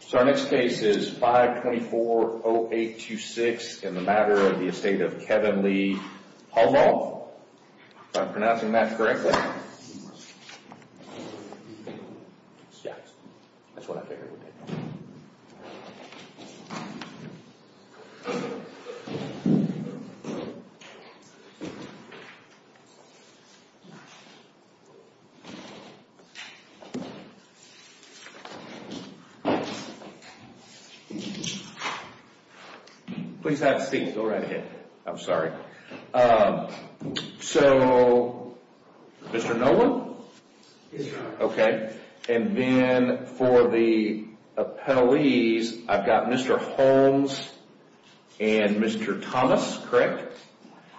So our next case is 524-0826 in the matter of the estate of Kevin Lee Hohlbaugh, if I'm pronouncing that correctly. Please have a seat. Go right ahead. I'm sorry. So, Mr. Nolan? Yes, sir. Okay. And then for the appellees, I've got Mr. Holmes and Mr. Thomas, correct?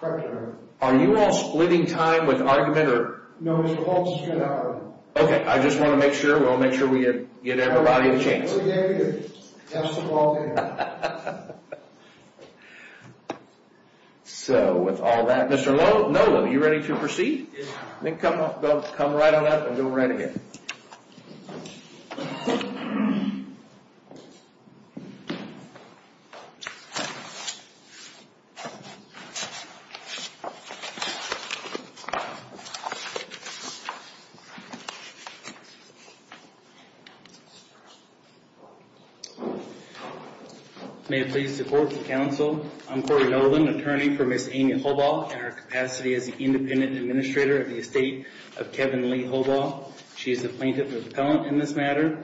Correct, sir. Are you all splitting time with argument, or? No, Mr. Holmes is straight out. Okay. I just want to make sure. We'll make sure we get everybody a chance. Yes, sir. So with all that, Mr. Nolan, are you ready to proceed? Yes, sir. Okay. Come right on up. We'll do it right again. May it please the court and counsel, I'm Corey Nolan, attorney for Ms. Amy Hohlbaugh in her capacity as the independent administrator of the estate of Kevin Lee Hohlbaugh. She is the plaintiff's appellant in this matter,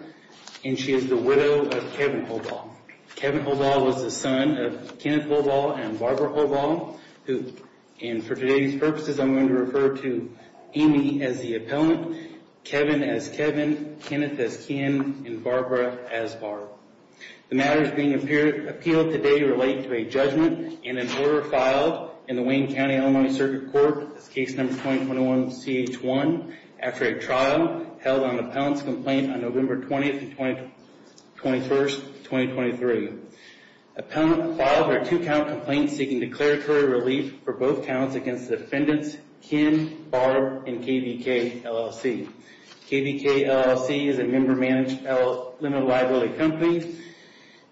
and she is the widow of Kevin Hohlbaugh. Kevin Hohlbaugh was the son of Kenneth Hohlbaugh and Barbara Hohlbaugh. And for today's purposes, I'm going to refer to Amy as the appellant, Kevin as Kevin, Kenneth as Ken, and Barbara as Barbara. The matters being appealed today relate to a judgment and an order filed in the Wayne County, Illinois, Circuit Court, case number 2021-CH1, after a trial held on the appellant's complaint on November 20th and 21st, 2023. Appellant filed a two-count complaint seeking declaratory relief for both counts against the defendants, Kim, Barb, and KVK, LLC. KVK, LLC, is a member-managed limited liability company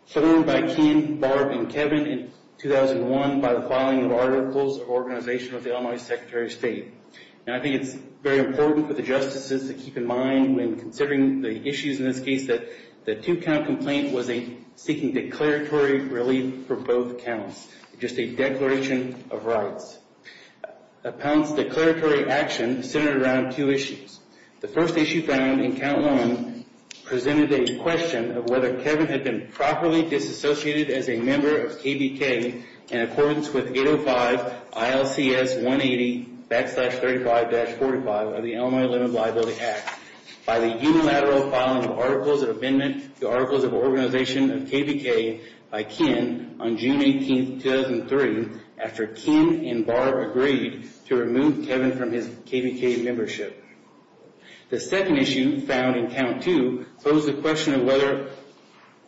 formed by Kim, Barb, and Kevin in 2001 by the filing of articles of organization with the Illinois Secretary of State. And I think it's very important for the justices to keep in mind when considering the issues in this case that the two-count complaint was a seeking declaratory relief for both counts, just a declaration of rights. Appellant's declaratory action centered around two issues. The first issue found in count one presented a question of whether Kevin had been properly disassociated as a member of KVK in accordance with 805 ILCS 180-35-45 of the Illinois Limited Liability Act by the unilateral filing of articles of amendment to articles of organization of KVK by Kim on June 18th, 2003, after Kim and Barb agreed to remove Kevin from his KVK membership. The second issue found in count two posed the question of whether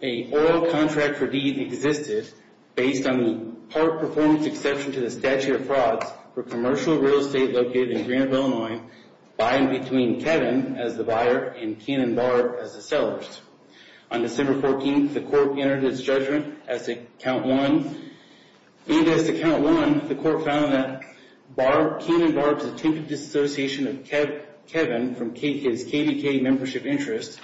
an oil contract for deeds existed based on the part performance exception to the statute of frauds for commercial real estate located in Greenville, Illinois, buying between Kevin as the buyer and Kim and Barb as the sellers. On December 14th, the court entered its judgment as to count one. And as to count one, the court found that Kim and Barb's attempted disassociation of Kevin from his KVK membership interest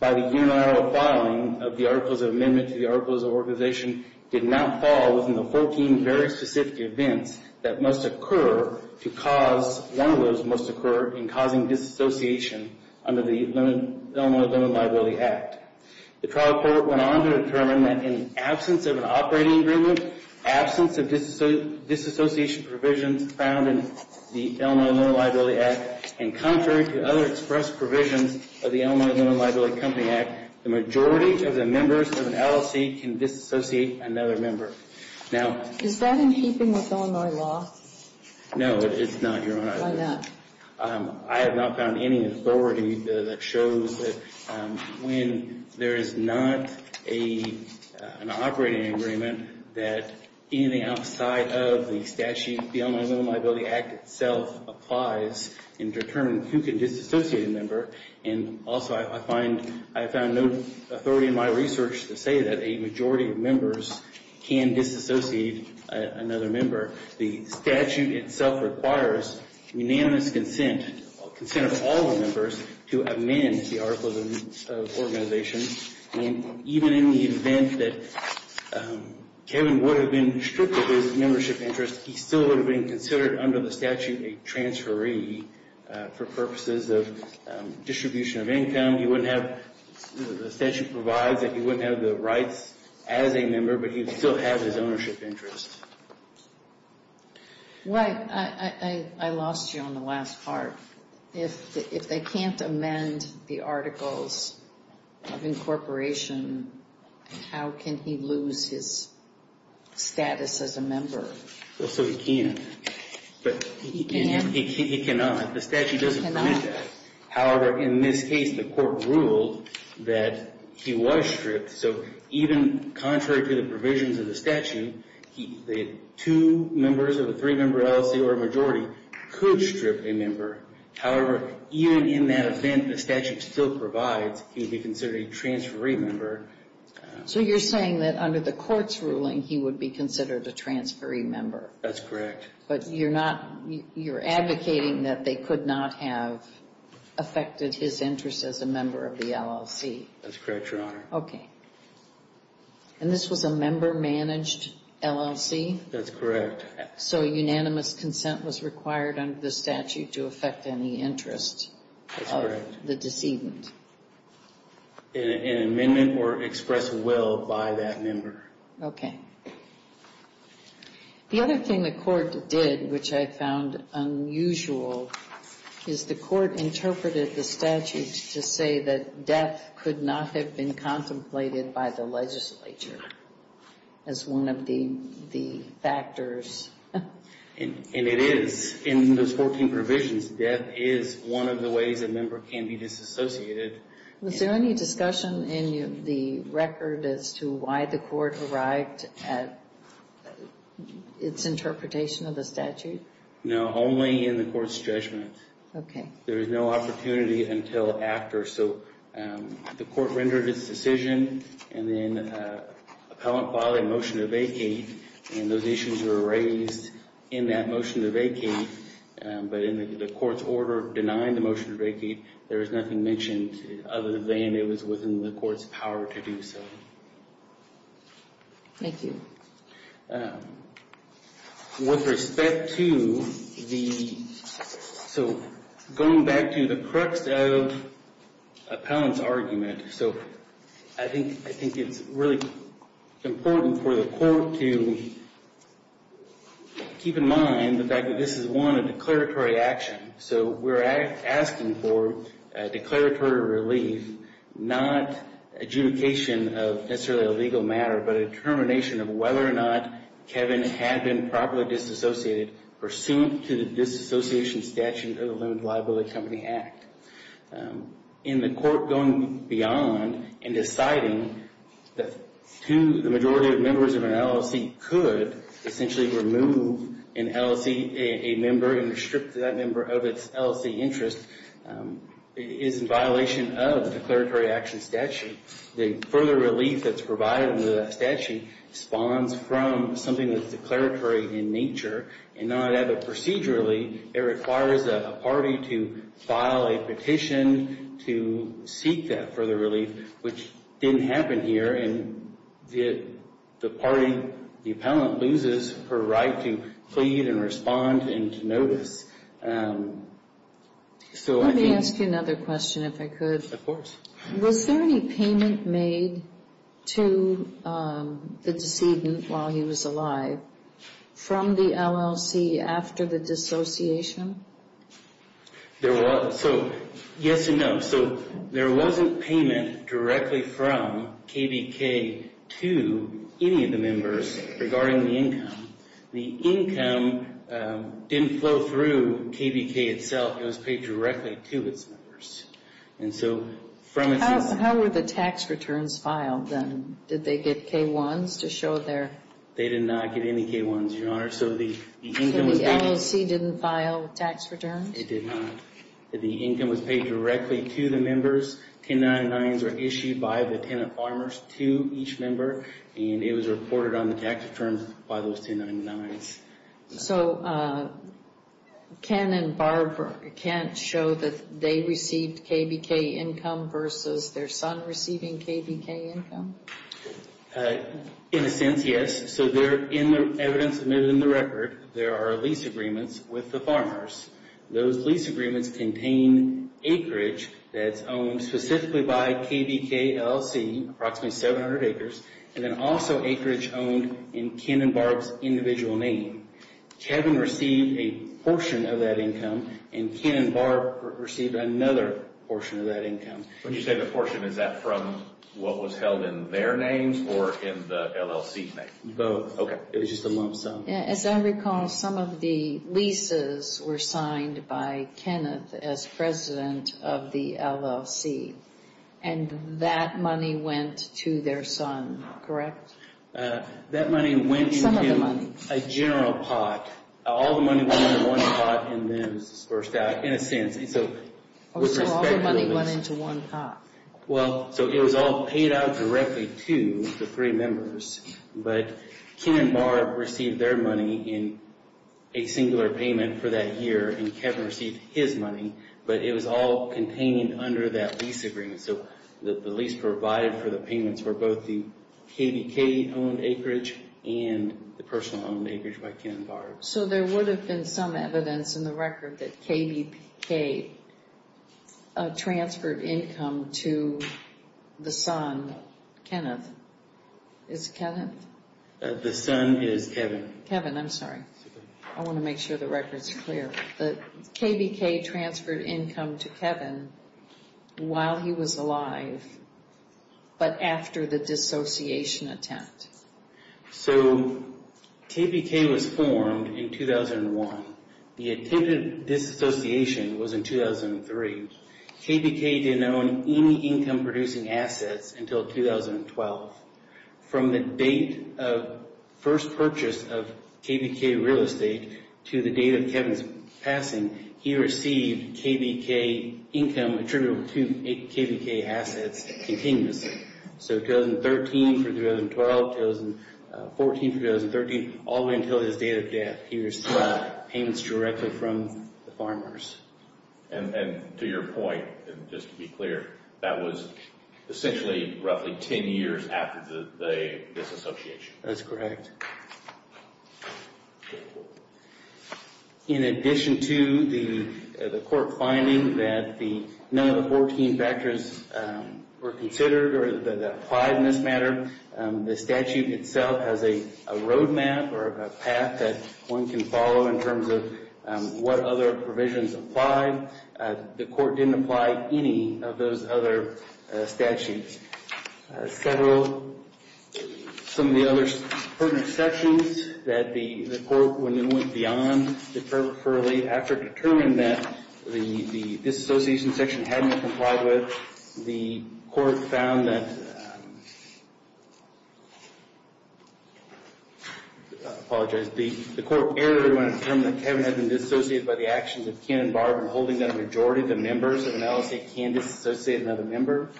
by the unilateral filing of the articles of amendment to the articles of organization did not fall within the 14 very specific events that must occur to cause, one of those must occur in causing disassociation under the Illinois Limited Liability Act. The trial court went on to determine that in absence of an operating agreement, absence of disassociation provisions found in the Illinois Limited Liability Act, and contrary to other express provisions of the Illinois Limited Liability Act, the majority of the members of an LLC can disassociate another member. Now... Is that in keeping with Illinois law? No, it's not, Your Honor. Why not? I have not found any authority that shows that when there is not an operating agreement that anything outside of the statute of the Illinois Limited Liability Act itself applies in determining who can disassociate a member. And also I find I found no authority in my research to say that a majority of members can disassociate another member. The statute itself requires unanimous consent, consent of all the members, to amend the articles of organization. And even in the event that Kevin would have been stripped of his membership interest, he still would have been considered under the statute a transferee for purposes of distribution of income. The statute provides that he wouldn't have the rights as a member, but he'd still have his ownership interest. Well, I lost you on the last part. If they can't amend the articles of incorporation, how can he lose his status as a member? Well, so he can. But he cannot. The statute doesn't permit that. However, in this case, the court ruled that he was stripped. So even contrary to the provisions of the statute, the two members of a three-member LLC or a majority could strip a member. However, even in that event, the statute still provides he would be considered a transferee member. So you're saying that under the court's ruling, he would be considered a transferee member? That's correct. But you're not, you're advocating that they could not have affected his interest as a member of the LLC? That's correct, Your Honor. Okay. And this was a member-managed LLC? That's correct. So unanimous consent was required under the statute to affect any interest of the decedent? An amendment or express will by that member. Okay. The other thing the court did, which I found unusual, is the court interpreted the statute to say that death could not have been contemplated by the legislature as one of the factors. And it is. In those 14 provisions, death is one of the ways a member can be disassociated. Was there any discussion in the record as to why the court arrived at its interpretation of the statute? No, only in the court's judgment. Okay. There was no opportunity until after. So the court rendered its decision, and then an appellant filed a motion to vacate, and those issues were raised in that motion to vacate. But in the court's order denying the motion to vacate, there is nothing mentioned other than it was within the court's power to do so. Thank you. With respect to the – so going back to the crux of appellant's argument, so I think it's really important for the court to keep in mind the fact that this is, one, a declaratory action. So we're asking for declaratory relief, not adjudication of necessarily a legal matter, but a determination of whether or not Kevin had been properly disassociated pursuant to the disassociation statute of the Limited Liability Company Act. In the court going beyond and deciding that the majority of members of an LLC could essentially remove an LLC member and restrict that member of its LLC interest is in violation of the declaratory action statute. The further relief that's provided under that statute spawns from something that's declaratory in nature and not procedurally. It requires a party to file a petition to seek that further relief, which didn't happen here, and the party, the appellant, loses her right to plead and respond and to notice. Let me ask you another question, if I could. Of course. Was there any payment made to the decedent while he was alive from the LLC after the dissociation? There was. So, yes and no. So there wasn't payment directly from KVK to any of the members regarding the income. The income didn't flow through KVK itself. It was paid directly to its members. How were the tax returns filed then? Did they get K-1s to show their... They did not get any K-1s, Your Honor. So the LLC didn't file tax returns? It did not. The income was paid directly to the members. 1099s were issued by the tenant farmers to each member, and it was reported on the tax returns by those 1099s. So Ken and Barb can't show that they received KVK income versus their son receiving KVK income? In a sense, yes. So in the evidence admitted in the record, there are lease agreements with the farmers. Those lease agreements contain acreage that's owned specifically by KVK LLC, approximately 700 acres, and then also acreage owned in Ken and Barb's individual name. Kevin received a portion of that income, and Ken and Barb received another portion of that income. When you say the portion, is that from what was held in their names or in the LLC's name? Both. Okay. It was just a lump sum. As I recall, some of the leases were signed by Kenneth as president of the LLC, and that money went to their son, correct? That money went into a general pot. All the money went into one pot in a sense. So all the money went into one pot. Well, so it was all paid out directly to the three members, but Ken and Barb received their money in a singular payment for that year, and Kevin received his money, but it was all contained under that lease agreement. So the lease provided for the payments were both the KVK-owned acreage and the personal-owned acreage by Ken and Barb. So there would have been some evidence in the record that KVK transferred income to the son, Kenneth. Is it Kenneth? The son is Kevin. Kevin, I'm sorry. I want to make sure the record is clear. KVK transferred income to Kevin while he was alive, but after the dissociation attempt. So KVK was formed in 2001. The attempt at dissociation was in 2003. KVK didn't own any income-producing assets until 2012. From the date of first purchase of KVK real estate to the date of Kevin's passing, he received KVK income attributable to KVK assets continuously. So 2013 through 2012, 2014 through 2013, all the way until his date of death, he received payments directly from the farmers. And to your point, just to be clear, that was essentially roughly 10 years after the dissociation. That's correct. In addition to the court finding that none of the 14 factors were considered or that applied in this matter, the statute itself has a roadmap or a path that one can follow in terms of what other provisions apply. The court didn't apply any of those other statutes. Several, some of the other pertinent sections that the court, when it went beyond the deferral, after it determined that the dissociation section hadn't been complied with, the court found that, I apologize, the court erred when it determined that Kevin had been dissociated by the actions of Ken and Barb and holding that a majority of the members of an LLC can dissociate another member.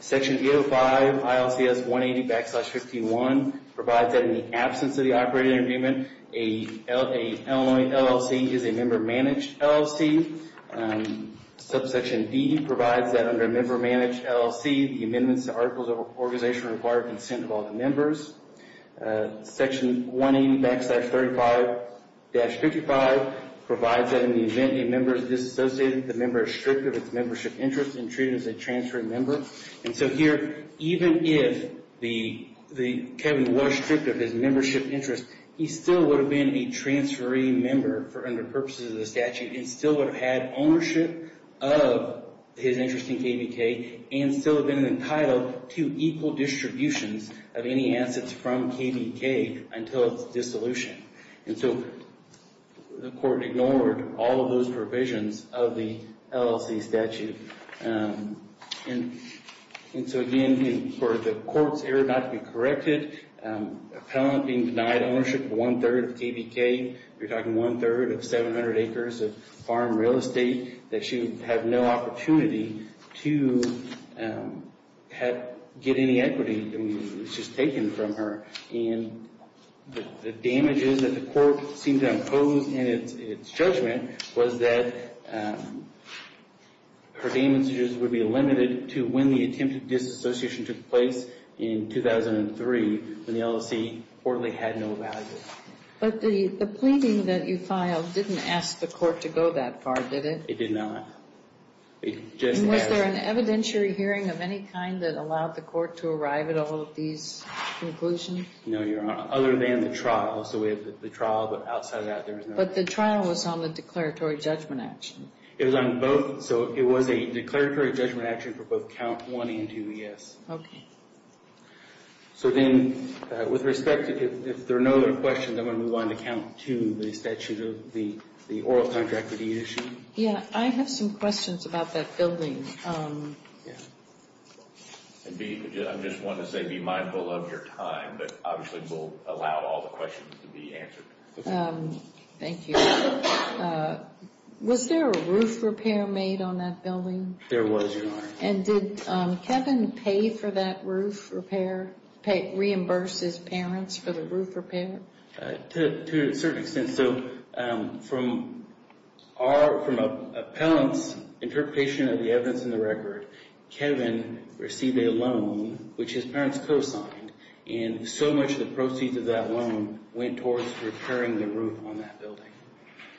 Section 805, ILCS 180-51 provides that in the absence of the operating agreement, an LLC is a member-managed LLC. Subsection D provides that under a member-managed LLC, the amendments to articles of organization require consent of all the members. Section 180-35-55 provides that in the event a member is dissociated, the member is stripped of its membership interest and treated as a transferring member. And so here, even if Kevin was stripped of his membership interest, he still would have been a transferring member under purposes of the statute and still would have had ownership of his interest in KBK and still have been entitled to equal distributions of any assets from KBK until its dissolution. And so the court ignored all of those provisions of the LLC statute. And so again, for the court's error not to be corrected, appellant being denied ownership of one-third of KBK, you're talking one-third of 700 acres of farm real estate, that she would have no opportunity to get any equity that was just taken from her. And the damages that the court seemed to impose in its judgment was that her damages would be limited to when the attempted disassociation took place in 2003 when the LLC reportedly had no value. But the pleading that you filed didn't ask the court to go that far, did it? It did not. Was there an evidentiary hearing of any kind that allowed the court to arrive at all of these conclusions? No, Your Honor, other than the trial. So we have the trial, but outside of that, there was no. But the trial was on the declaratory judgment action. It was on both. So it was a declaratory judgment action for both count one and two, yes. Okay. So then, with respect, if there are no other questions, I'm going to move on to count two, the statute of the oral contract with the issue. Yeah, I have some questions about that building. I'm just wanting to say be mindful of your time, but obviously we'll allow all the questions to be answered. Thank you. Was there a roof repair made on that building? There was, Your Honor. And did Kevin pay for that roof repair, reimburse his parents for the roof repair? To a certain extent. So from an appellant's interpretation of the evidence in the record, Kevin received a loan, which his parents co-signed, and so much of the proceeds of that loan went towards repairing the roof on that building.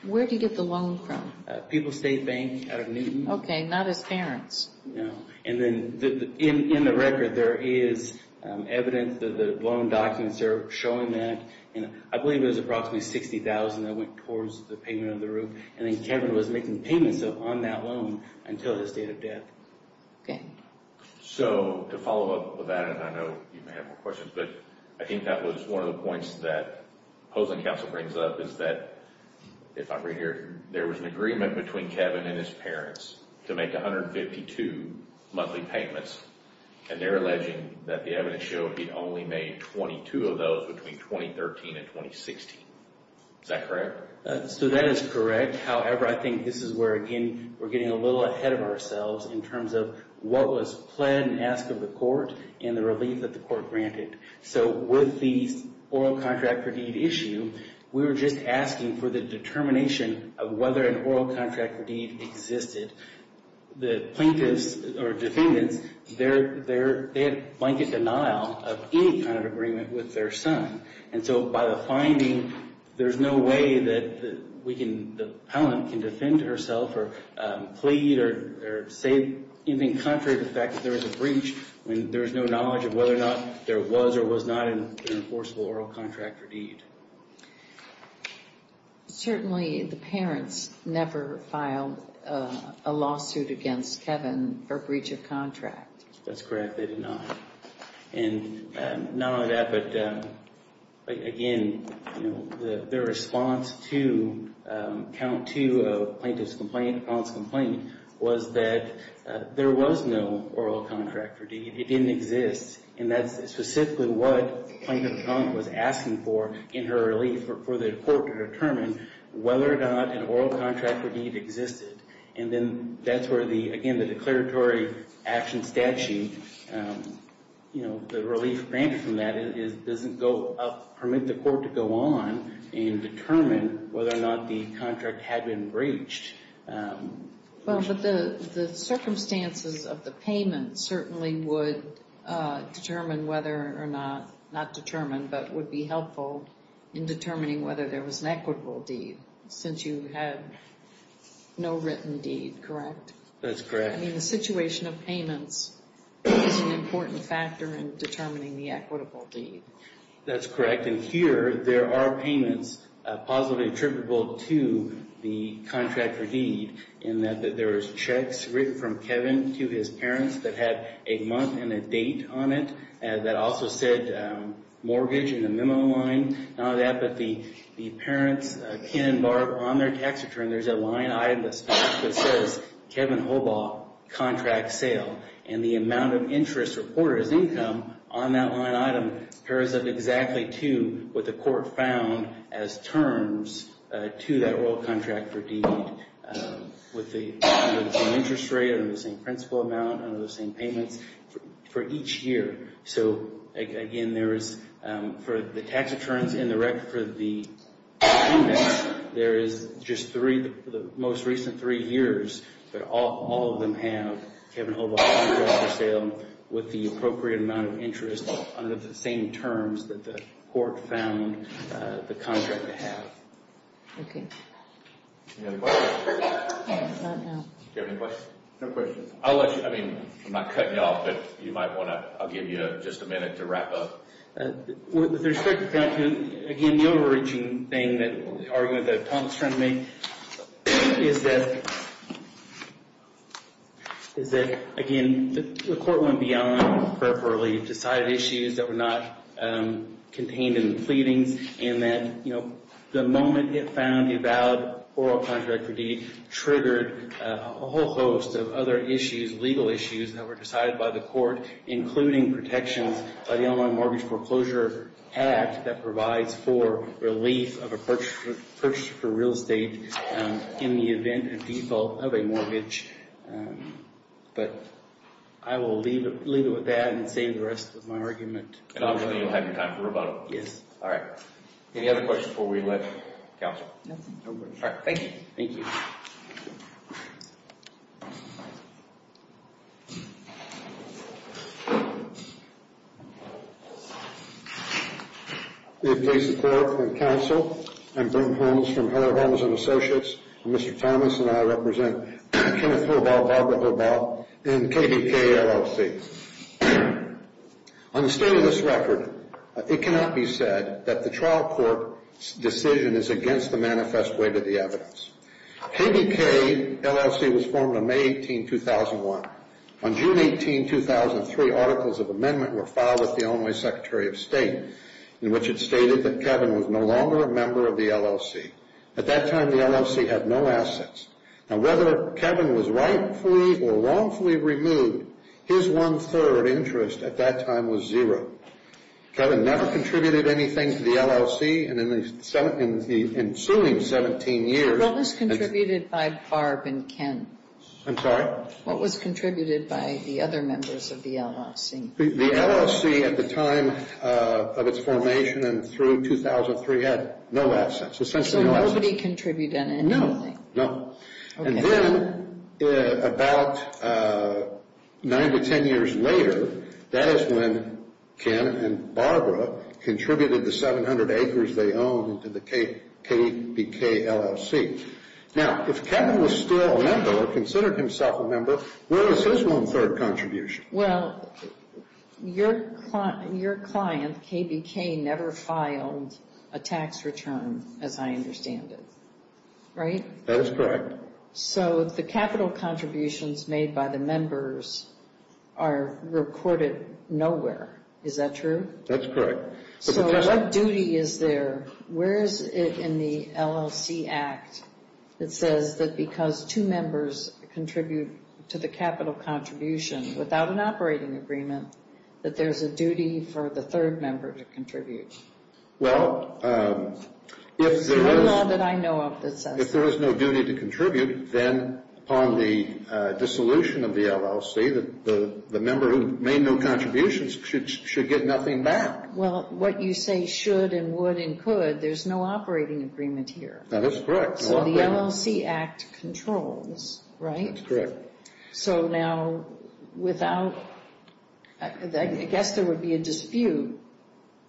Where did he get the loan from? People's State Bank out of Newton. Okay, not his parents. No. And then in the record, there is evidence that the loan documents are showing that. I believe it was approximately $60,000 that went towards the payment of the roof, and then Kevin was making payments on that loan until his date of death. So to follow up with that, and I know you may have more questions, but I think that was one of the points that the opposing counsel brings up, is that if I read here, there was an agreement between Kevin and his parents to make 152 monthly payments, and they're alleging that the evidence showed he'd only made 22 of those between 2013 and 2016. Is that correct? So that is correct. However, I think this is where, again, we're getting a little ahead of ourselves in terms of what was pled and asked of the court and the relief that the court granted. So with the oral contract for deed issue, we were just asking for the determination of whether an oral contract for deed existed. The plaintiffs or defendants, they had blanket denial of any kind of agreement with their son. And so by the finding, there's no way that the appellant can defend herself or plead or say anything contrary to the fact that there was a breach when there's no knowledge of whether or not there was or was not an enforceable oral contract for deed. Certainly the parents never filed a lawsuit against Kevin for breach of contract. That's correct. They did not. And not only that, but again, their response to count two of plaintiff's complaint, appellant's complaint, was that there was no oral contract for deed. It didn't exist. And that's specifically what Plaintiff Trump was asking for in her relief, for the court to determine whether or not an oral contract for deed existed. And then that's where the, again, the declaratory action statute, you know, the relief granted from that doesn't permit the court to go on and determine whether or not the contract had been breached. Well, but the circumstances of the payment certainly would determine whether or not, not determine, but would be helpful in determining whether there was an equitable deed. Since you have no written deed, correct? That's correct. I mean, the situation of payments is an important factor in determining the equitable deed. That's correct. And here there are payments possibly attributable to the contract for deed, in that there was checks written from Kevin to his parents that had a month and a date on it, that also said mortgage in the memo line. Not only that, but the parents, Ken and Barb, on their tax return, there's a line item that says, Kevin Hobart, contract sale. And the amount of interest reported as income on that line item pairs up exactly to what the court found as terms to that oral contract for deed with the same interest rate, under the same principal amount, under the same payments for each year. So, again, there is, for the tax returns in the record for the payments, there is just three, for the most recent three years, but all of them have Kevin Hobart contract for sale with the appropriate amount of interest under the same terms that the court found the contract to have. Okay. Any other questions? No, not now. Do you have any questions? No questions. I'll let you, I mean, I'm not cutting you off, but you might want to, I'll give you just a minute to wrap up. With respect to that, again, the overreaching thing that, the argument that Tom is trying to make is that, is that, again, the court went beyond preferably decided issues that were not contained in the pleadings and that, you know, the moment it found a valid oral contract for deed triggered a whole host of other issues, legal issues, that were decided by the court, including protections by the Online Mortgage Foreclosure Act that provides for relief of a purchase for real estate in the event of default of a mortgage. But I will leave it with that and save the rest of my argument. And, obviously, you'll have your time for rebuttal. Yes. All right. Any other questions before we let counsel? No questions. All right. Thank you. Thank you. May it please the Court and counsel, I'm Brent Holmes from Heller Holmes & Associates, and Mr. Thomas and I represent Kenneth Hobart, Barbara Hobart, and KDK LLC. On the state of this record, it cannot be said that the trial court's decision is against the manifest weight of the evidence. KDK LLC was formed on May 18, 2001. On June 18, 2003, articles of amendment were filed with the Illinois Secretary of State in which it stated that Kevin was no longer a member of the LLC. At that time, the LLC had no assets. Now, whether Kevin was rightfully or wrongfully removed, his one-third interest at that time was zero. Kevin never contributed anything to the LLC. And in the ensuing 17 years, What was contributed by Barb and Ken? I'm sorry? What was contributed by the other members of the LLC? The LLC at the time of its formation and through 2003 had no assets, essentially no assets. So nobody contributed anything? No, no. And then about 9 to 10 years later, that is when Ken and Barbara contributed the 700 acres they owned to the KBK LLC. Now, if Kevin was still a member or considered himself a member, where was his one-third contribution? Well, your client, KBK, never filed a tax return as I understand it. Right? That is correct. So the capital contributions made by the members are reported nowhere. Is that true? That's correct. So what duty is there? Where is it in the LLC Act that says that because two members contribute to the capital contribution without an operating agreement, that there's a duty for the third member to contribute? Well, if there is no duty to contribute, then upon the dissolution of the LLC, the member who made no contributions should get nothing back. Well, what you say should and would and could, there's no operating agreement here. That is correct. So the LLC Act controls, right? That's correct. So now without, I guess there would be a dispute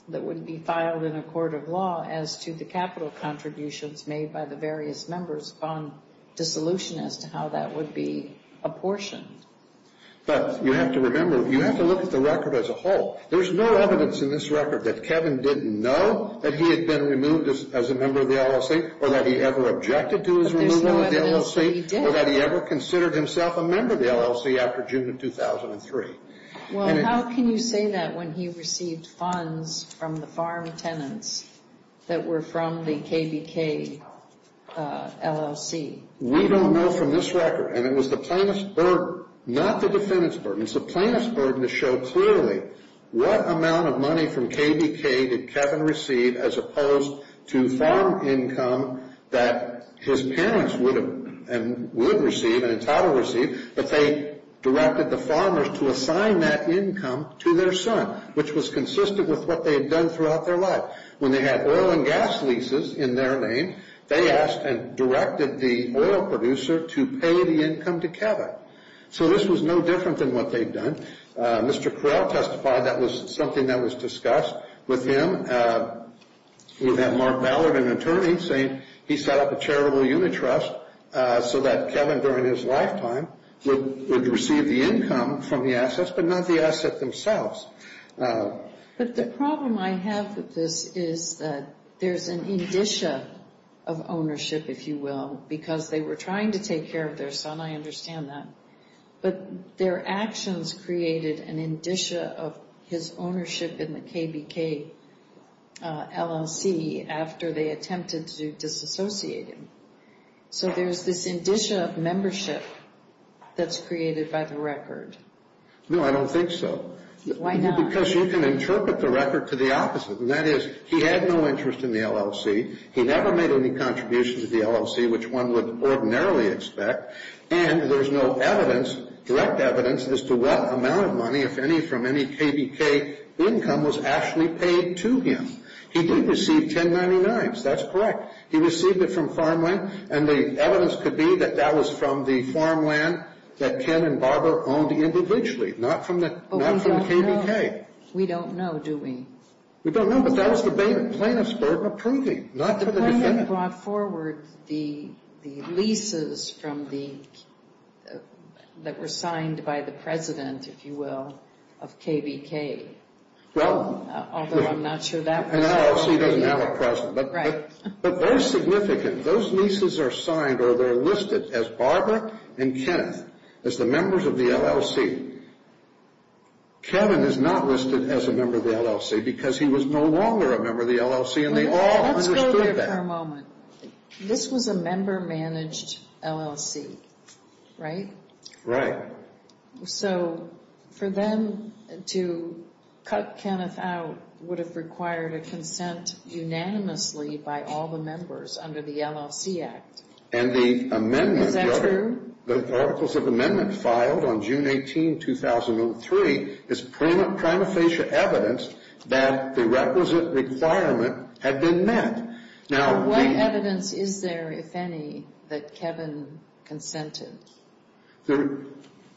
that would be filed in a court of law as to the capital contributions made by the various members upon dissolution as to how that would be apportioned. But you have to remember, you have to look at the record as a whole. There's no evidence in this record that Kevin didn't know that he had been removed as a member of the LLC or that he ever objected to his removal of the LLC. But there's no evidence that he did. Or that he ever considered himself a member of the LLC after June of 2003. Well, how can you say that when he received funds from the farm tenants that were from the KBK LLC? We don't know from this record. And it was the plaintiff's burden, not the defendant's burden. It's the plaintiff's burden to show clearly what amount of money from KBK did Kevin receive as opposed to farm income that his parents would have and would receive and entitled to receive. But they directed the farmers to assign that income to their son, which was consistent with what they had done throughout their life. When they had oil and gas leases in their name, they asked and directed the oil producer to pay the income to Kevin. So this was no different than what they'd done. Mr. Correll testified that was something that was discussed with him. We have Mark Ballard, an attorney, saying he set up a charitable unit trust so that Kevin, during his lifetime, would receive the income from the assets, but not the asset themselves. But the problem I have with this is that there's an indicia of ownership, if you will, because they were trying to take care of their son. I understand that. But their actions created an indicia of his ownership in the KBK LLC after they attempted to disassociate him. So there's this indicia of membership that's created by the record. No, I don't think so. Why not? Because you can interpret the record to the opposite, and that is he had no interest in the LLC. He never made any contributions to the LLC, which one would ordinarily expect. And there's no evidence, direct evidence, as to what amount of money, if any, from any KBK income was actually paid to him. He did receive 1099s. That's correct. He received it from farmland, and the evidence could be that that was from the farmland that Ken and Barbara owned individually, not from the KBK. But we don't know. We don't know, do we? We don't know, but that was the plaintiff's burden of proving, not for the defendant. Kevin brought forward the leases that were signed by the president, if you will, of KBK. Although I'm not sure that was the KBK. An LLC doesn't have a president. Right. But those significant, those leases are signed or they're listed as Barbara and Kenneth, as the members of the LLC. Kevin is not listed as a member of the LLC because he was no longer a member of the LLC, and they all understood that. Let's go there for a moment. This was a member-managed LLC, right? Right. So for them to cut Kenneth out would have required a consent unanimously by all the members under the LLC Act. Is that true? The articles of amendment filed on June 18, 2003, is prima facie evidence that the requisite requirement had been met. What evidence is there, if any, that Kevin consented?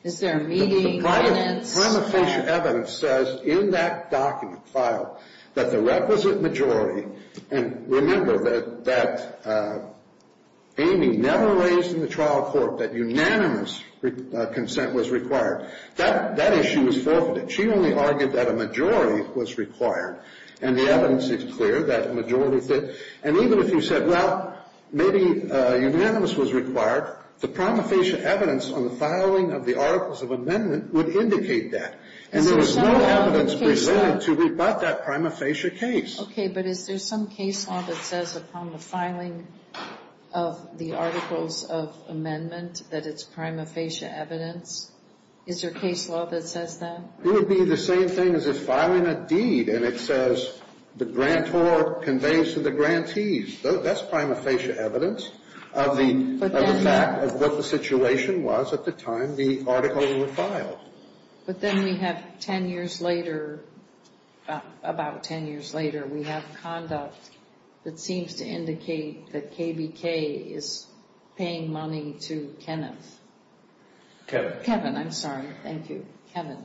Is there a meeting, evidence? The prima facie evidence says in that document file that the requisite majority, and remember that Amy never raised in the trial court that unanimous consent was required. That issue was forfeited. She only argued that a majority was required. And the evidence is clear that a majority fit. And even if you said, well, maybe unanimous was required, the prima facie evidence on the filing of the articles of amendment would indicate that. And there was no evidence presented to rebut that prima facie case. Okay, but is there some case law that says upon the filing of the articles of amendment that it's prima facie evidence? Is there case law that says that? It would be the same thing as if filing a deed and it says the grantor conveys to the grantees. That's prima facie evidence of the fact of what the situation was at the time the article was filed. But then we have 10 years later, about 10 years later, we have conduct that seems to indicate that KBK is paying money to Kenneth. Kevin. Kevin, I'm sorry. Thank you. Kevin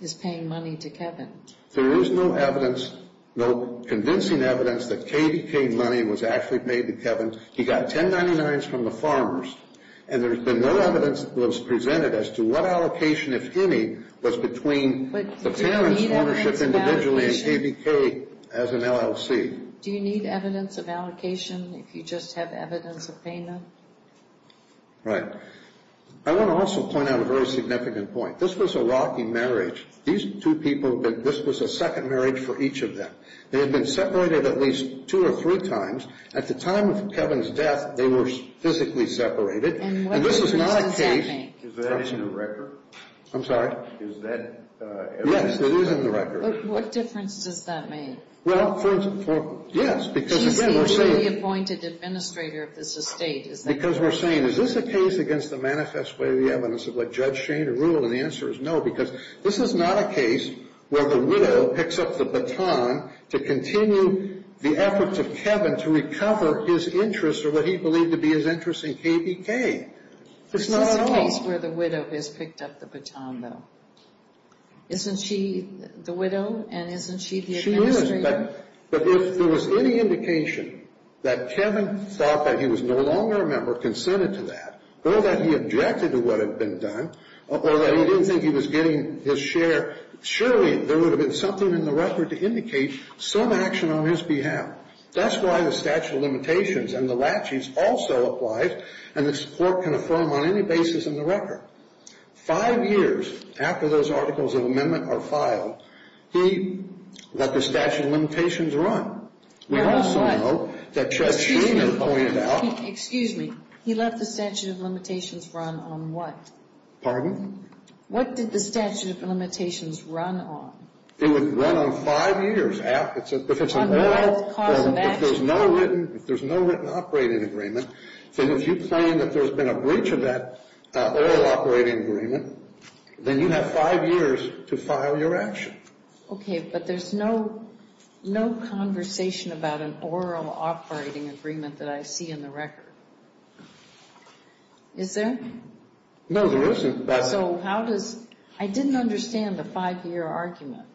is paying money to Kevin. There is no evidence, no convincing evidence that KBK money was actually paid to Kevin. He got 10.99s from the farmers. And there's been no evidence that was presented as to what allocation, if any, was between the parents' ownership individually and KBK as an LLC. Do you need evidence of allocation if you just have evidence of payment? Right. I want to also point out a very significant point. This was a rocky marriage. These two people, this was a second marriage for each of them. They had been separated at least two or three times. At the time of Kevin's death, they were physically separated. And what difference does that make? And this is not a case. Is that in the record? I'm sorry? Is that evidence? Yes, it is in the record. But what difference does that make? Well, for instance, yes. Because again, we're saying. He seems to be the appointed administrator of this estate. Because we're saying, is this a case against the manifest way of the evidence of what Judge Shane ruled? And the answer is no. Because this is not a case where the widow picks up the baton to continue the efforts of Kevin to recover his interest or what he believed to be his interest in KBK. It's not at all. This is a case where the widow has picked up the baton, though. Isn't she the widow? And isn't she the administrator? She is. But if there was any indication that Kevin thought that he was no longer a member, consented to that, or that he objected to what had been done, or that he didn't think he was getting his share, surely there would have been something in the record to indicate some action on his behalf. That's why the statute of limitations and the laches also apply, and the court can affirm on any basis in the record. Five years after those articles of amendment are filed, he let the statute of limitations run. We also know that Judge Shane had pointed out. Excuse me. He let the statute of limitations run on what? Pardon? What did the statute of limitations run on? It would run on five years. On what cause of action? If there's no written operating agreement, then if you claim that there's been a breach of that oral operating agreement, then you have five years to file your action. Okay, but there's no conversation about an oral operating agreement that I see in the record. Is there? No, there isn't. So how does – I didn't understand the five-year argument.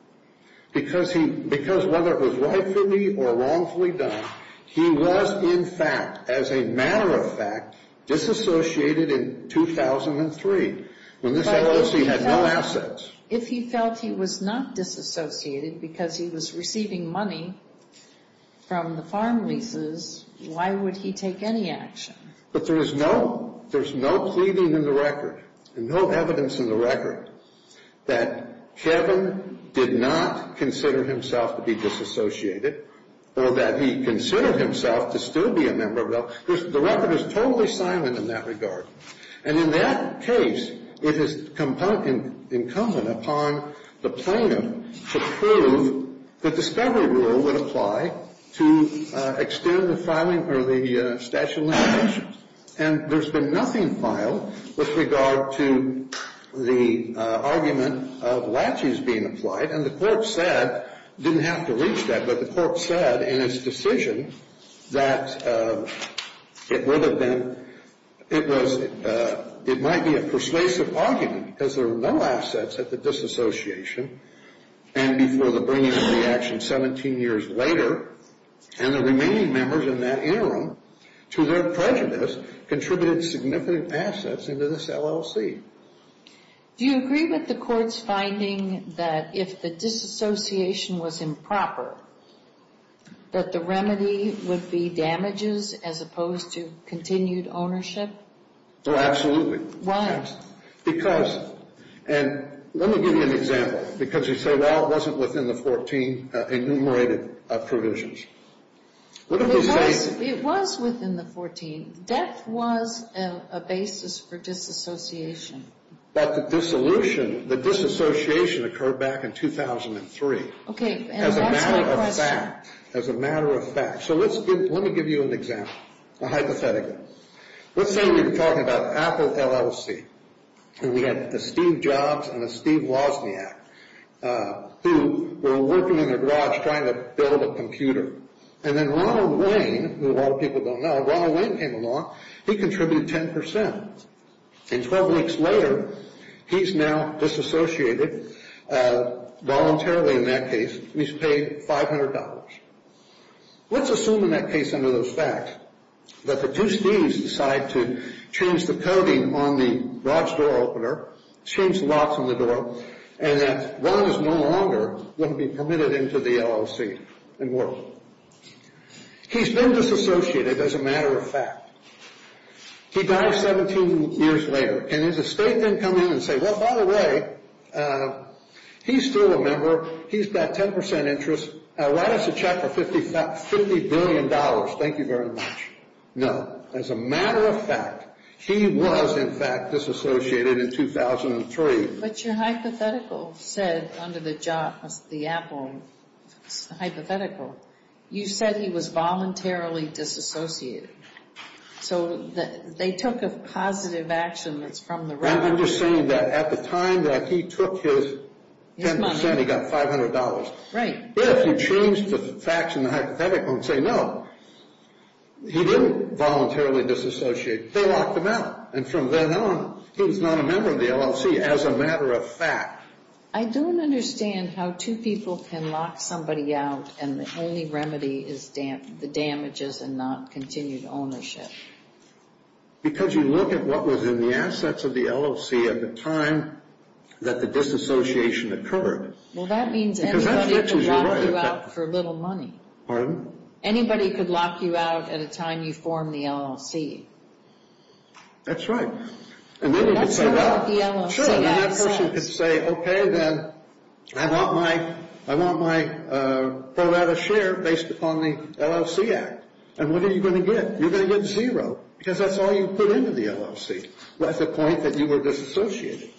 Because whether it was rightfully or wrongfully done, he was, in fact, as a matter of fact, disassociated in 2003, when this LOC had no assets. If he felt he was not disassociated because he was receiving money from the farm leases, why would he take any action? But there's no pleading in the record and no evidence in the record that Kevin did not consider himself to be disassociated or that he considered himself to still be a member of the – the record is totally silent in that regard. And in that case, it is incumbent upon the plaintiff to prove the discovery rule would apply to extend the filing or the statute of limitations. And there's been nothing filed with regard to the argument of laches being applied. And the court said – didn't have to reach that, but the court said in its decision that it would have been – it was – it might be a persuasive argument because there were no assets at the disassociation and before the bringing of the action 17 years later. And the remaining members in that interim, to their prejudice, contributed significant assets into this LOC. Do you agree with the court's finding that if the disassociation was improper, that the remedy would be damages as opposed to continued ownership? Oh, absolutely. Why? Because – and let me give you an example. Because you say, well, it wasn't within the 14 enumerated provisions. It was within the 14. Death was a basis for disassociation. But the dissolution – the disassociation occurred back in 2003. Okay. As a matter of fact. As a matter of fact. So let's give – let me give you an example, a hypothetical. Let's say we're talking about Apple LLC. And we have a Steve Jobs and a Steve Wozniak who were working in their garage trying to build a computer. And then Ronald Wayne, who a lot of people don't know, Ronald Wayne came along. He contributed 10%. And 12 weeks later, he's now disassociated voluntarily in that case. He's paid $500. Let's assume in that case under those facts that the two Steves decide to change the coating on the garage door opener, change the locks on the door, and that Ron is no longer going to be permitted into the LLC and work. He's been disassociated as a matter of fact. He dies 17 years later. Can his estate then come in and say, well, by the way, he's still a member. He's got 10% interest. Write us a check for $50 billion. Thank you very much. No. As a matter of fact, he was, in fact, disassociated in 2003. But your hypothetical said under the job, the Apple hypothetical, you said he was voluntarily disassociated. So they took a positive action that's from the… I'm just saying that at the time that he took his 10%, he got $500. Right. If you change the facts in the hypothetical and say no, he didn't voluntarily disassociate. They locked him out. And from then on, he was not a member of the LLC as a matter of fact. I don't understand how two people can lock somebody out and the only remedy is the damages and not continued ownership. Because you look at what was in the assets of the LLC at the time that the disassociation occurred. Well, that means anybody could lock you out for little money. Pardon? Anybody could lock you out at a time you form the LLC. That's right. And then you could say, well, sure, then that person could say, okay, then I want my pro rata share based upon the LLC Act. And what are you going to get? You're going to get zero because that's all you put into the LLC. That's the point that you were disassociated.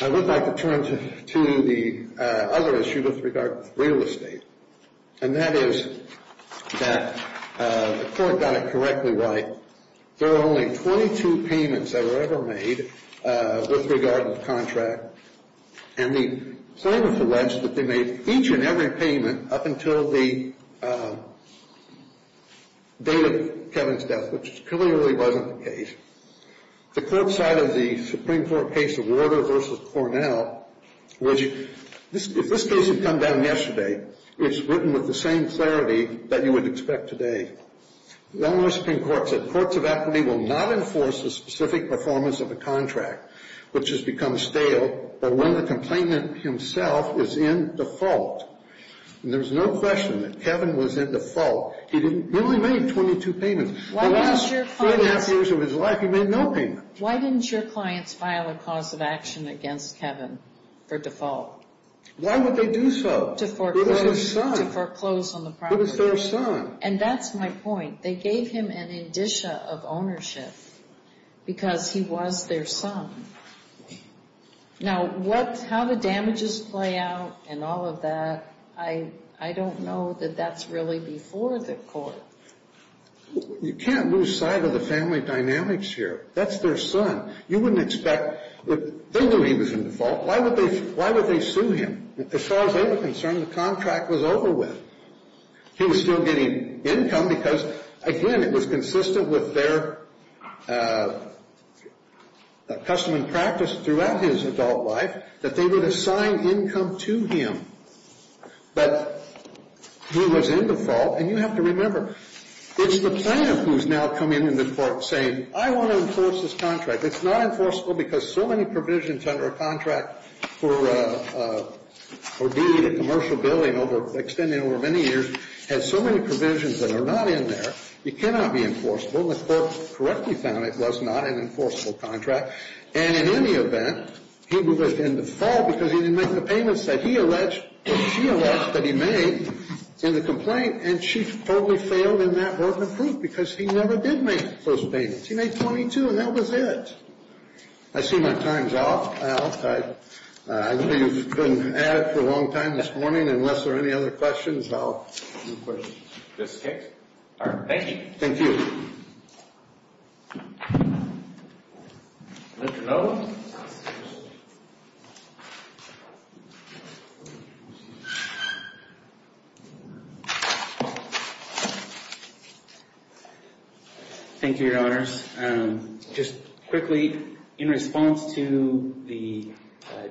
I would like to turn to the other issue with regard to real estate. And that is that the court got it correctly right. There were only 22 payments that were ever made with regard to the contract. And the sentence alleged that they made each and every payment up until the date of Kevin's death, which clearly wasn't the case. The court side of the Supreme Court case of Warder v. Cornell, if this case had come down yesterday, it's written with the same clarity that you would expect today. The only Supreme Court said courts of equity will not enforce the specific performance of a contract, which has become stale, but when the complainant himself is in default. And there's no question that Kevin was in default. He only made 22 payments. The last three and a half years of his life, he made no payments. Why didn't your clients file a cause of action against Kevin for default? Why would they do so? To foreclose. It was his son. To foreclose on the property. It was their son. And that's my point. They gave him an indicia of ownership because he was their son. Now, how the damages play out and all of that, I don't know that that's really before the court. You can't lose sight of the family dynamics here. That's their son. You wouldn't expect that they knew he was in default. Why would they sue him? As far as they were concerned, the contract was over with. He was still getting income because, again, it was consistent with their custom and practice throughout his adult life that they would assign income to him. But he was in default. And you have to remember, it's the plaintiff who's now coming into court saying, I want to enforce this contract. It's not enforceable because so many provisions under a contract for commercial billing extending over many years has so many provisions that are not in there. It cannot be enforceable. And the court correctly found it was not an enforceable contract. And in any event, he was in default because he didn't make the payments that he alleged or she alleged that he made in the complaint. And she totally failed in that broken proof because he never did make those payments. He made 22, and that was it. I see my time's up. I know you've been at it for a long time this morning. Unless there are any other questions, I'll move quickly. All right. Thank you. Thank you. Mr. Bowe. Thank you, Your Honors. Just quickly, in response to the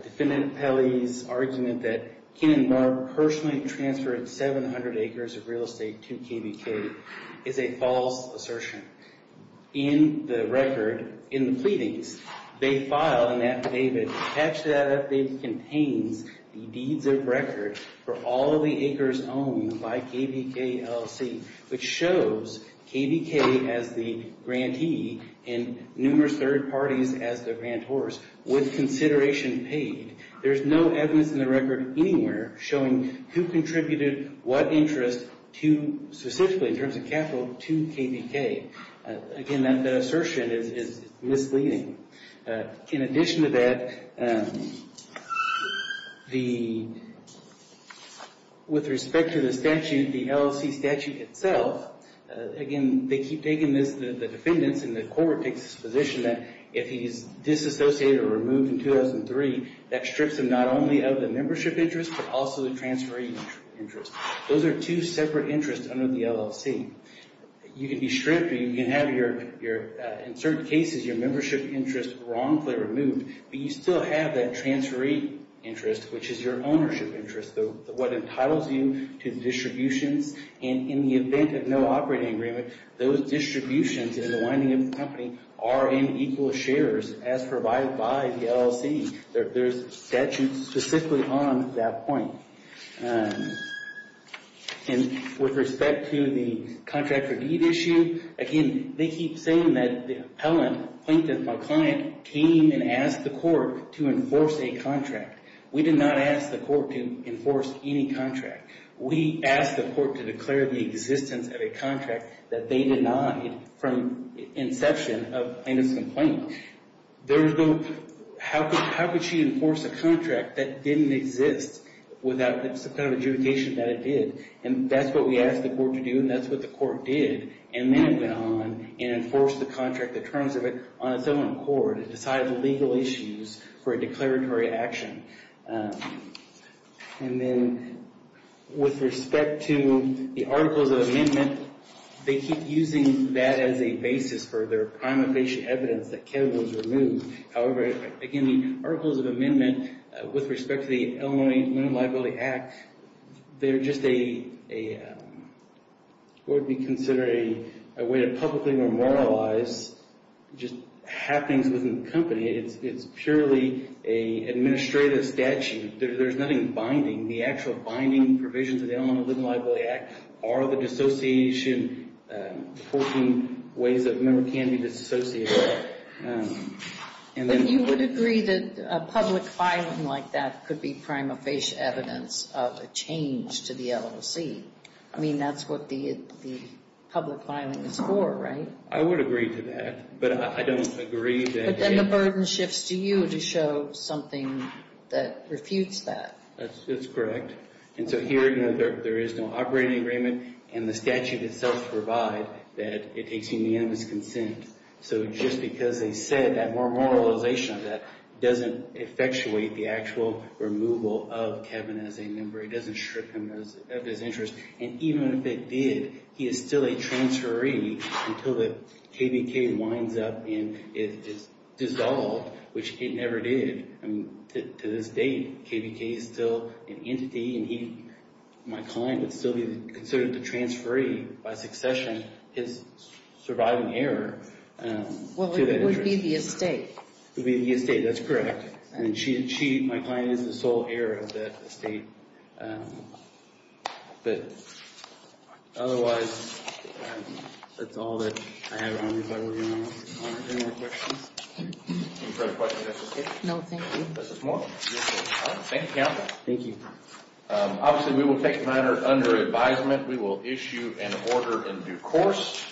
defendant Pelley's argument that Ken and Mark personally transferred 700 acres of real estate to KBK is a false assertion. In the record, in the pleadings, they filed an affidavit attached to that affidavit contains the deeds of record for all of the acres owned by KBK LLC, which shows KBK as the grantee and numerous third parties as the grantors with consideration paid. There is no evidence in the record anywhere showing who contributed what interest to, specifically in terms of capital, to KBK. Again, that assertion is misleading. In addition to that, with respect to the statute, the LLC statute itself, again, they keep taking this, the defendants, and the court takes this position that if he's disassociated or removed in 2003, that strips him not only of the membership interest, but also the transferee interest. Those are two separate interests under the LLC. You can be stripped or you can have your, in certain cases, your membership interest wrongfully removed, but you still have that transferee interest, which is your ownership interest, what entitles you to distributions. And in the event of no operating agreement, those distributions in the winding of the company are in equal shares as provided by the LLC. There's statutes specifically on that point. And with respect to the contractor deed issue, again, they keep saying that the appellant, Plinkton, my client, came and asked the court to enforce a contract. We did not ask the court to enforce any contract. We asked the court to declare the existence of a contract that they denied from inception of Plankton's complaint. There was no, how could she enforce a contract that didn't exist without some kind of adjudication that it did? And that's what we asked the court to do, and that's what the court did. And then it went on and enforced the contract, the terms of it, on its own accord. It decided the legal issues for a declaratory action. And then with respect to the Articles of Amendment, they keep using that as a basis for their prima facie evidence that Kevin was removed. However, again, the Articles of Amendment, with respect to the Illinois Minimum Liability Act, they're just a, what would be considered a way to publicly memorialize just happenings within the company. It's purely an administrative statute. There's nothing binding. The actual binding provisions of the Illinois Minimum Liability Act are the dissociation, 14 ways that a member can be dissociated. And then you would agree that public filing like that could be prima facie evidence of a change to the LOC. I mean, that's what the public filing is for, right? I would agree to that, but I don't agree that Then the burden shifts to you to show something that refutes that. That's correct. And so here, you know, there is no operating agreement, and the statute itself provides that it takes unanimous consent. So just because they said that memorialization of that doesn't effectuate the actual removal of Kevin as a member. It doesn't strip him of his interest. And even if it did, he is still a transferee until the KVK winds up and it's dissolved, which it never did. I mean, to this date, KVK is still an entity, and he, my client, would still be considered the transferee by succession, his surviving heir. Well, it would be the estate. It would be the estate, that's correct. And she, my client, is the sole heir of that estate. But otherwise, that's all that I have. I don't know if I will be able to answer any more questions. Any further questions? No, thank you. Mrs. Moore. Thank you, Counsel. Thank you. Obviously, we will take matters under advisement. We will issue an order in due course.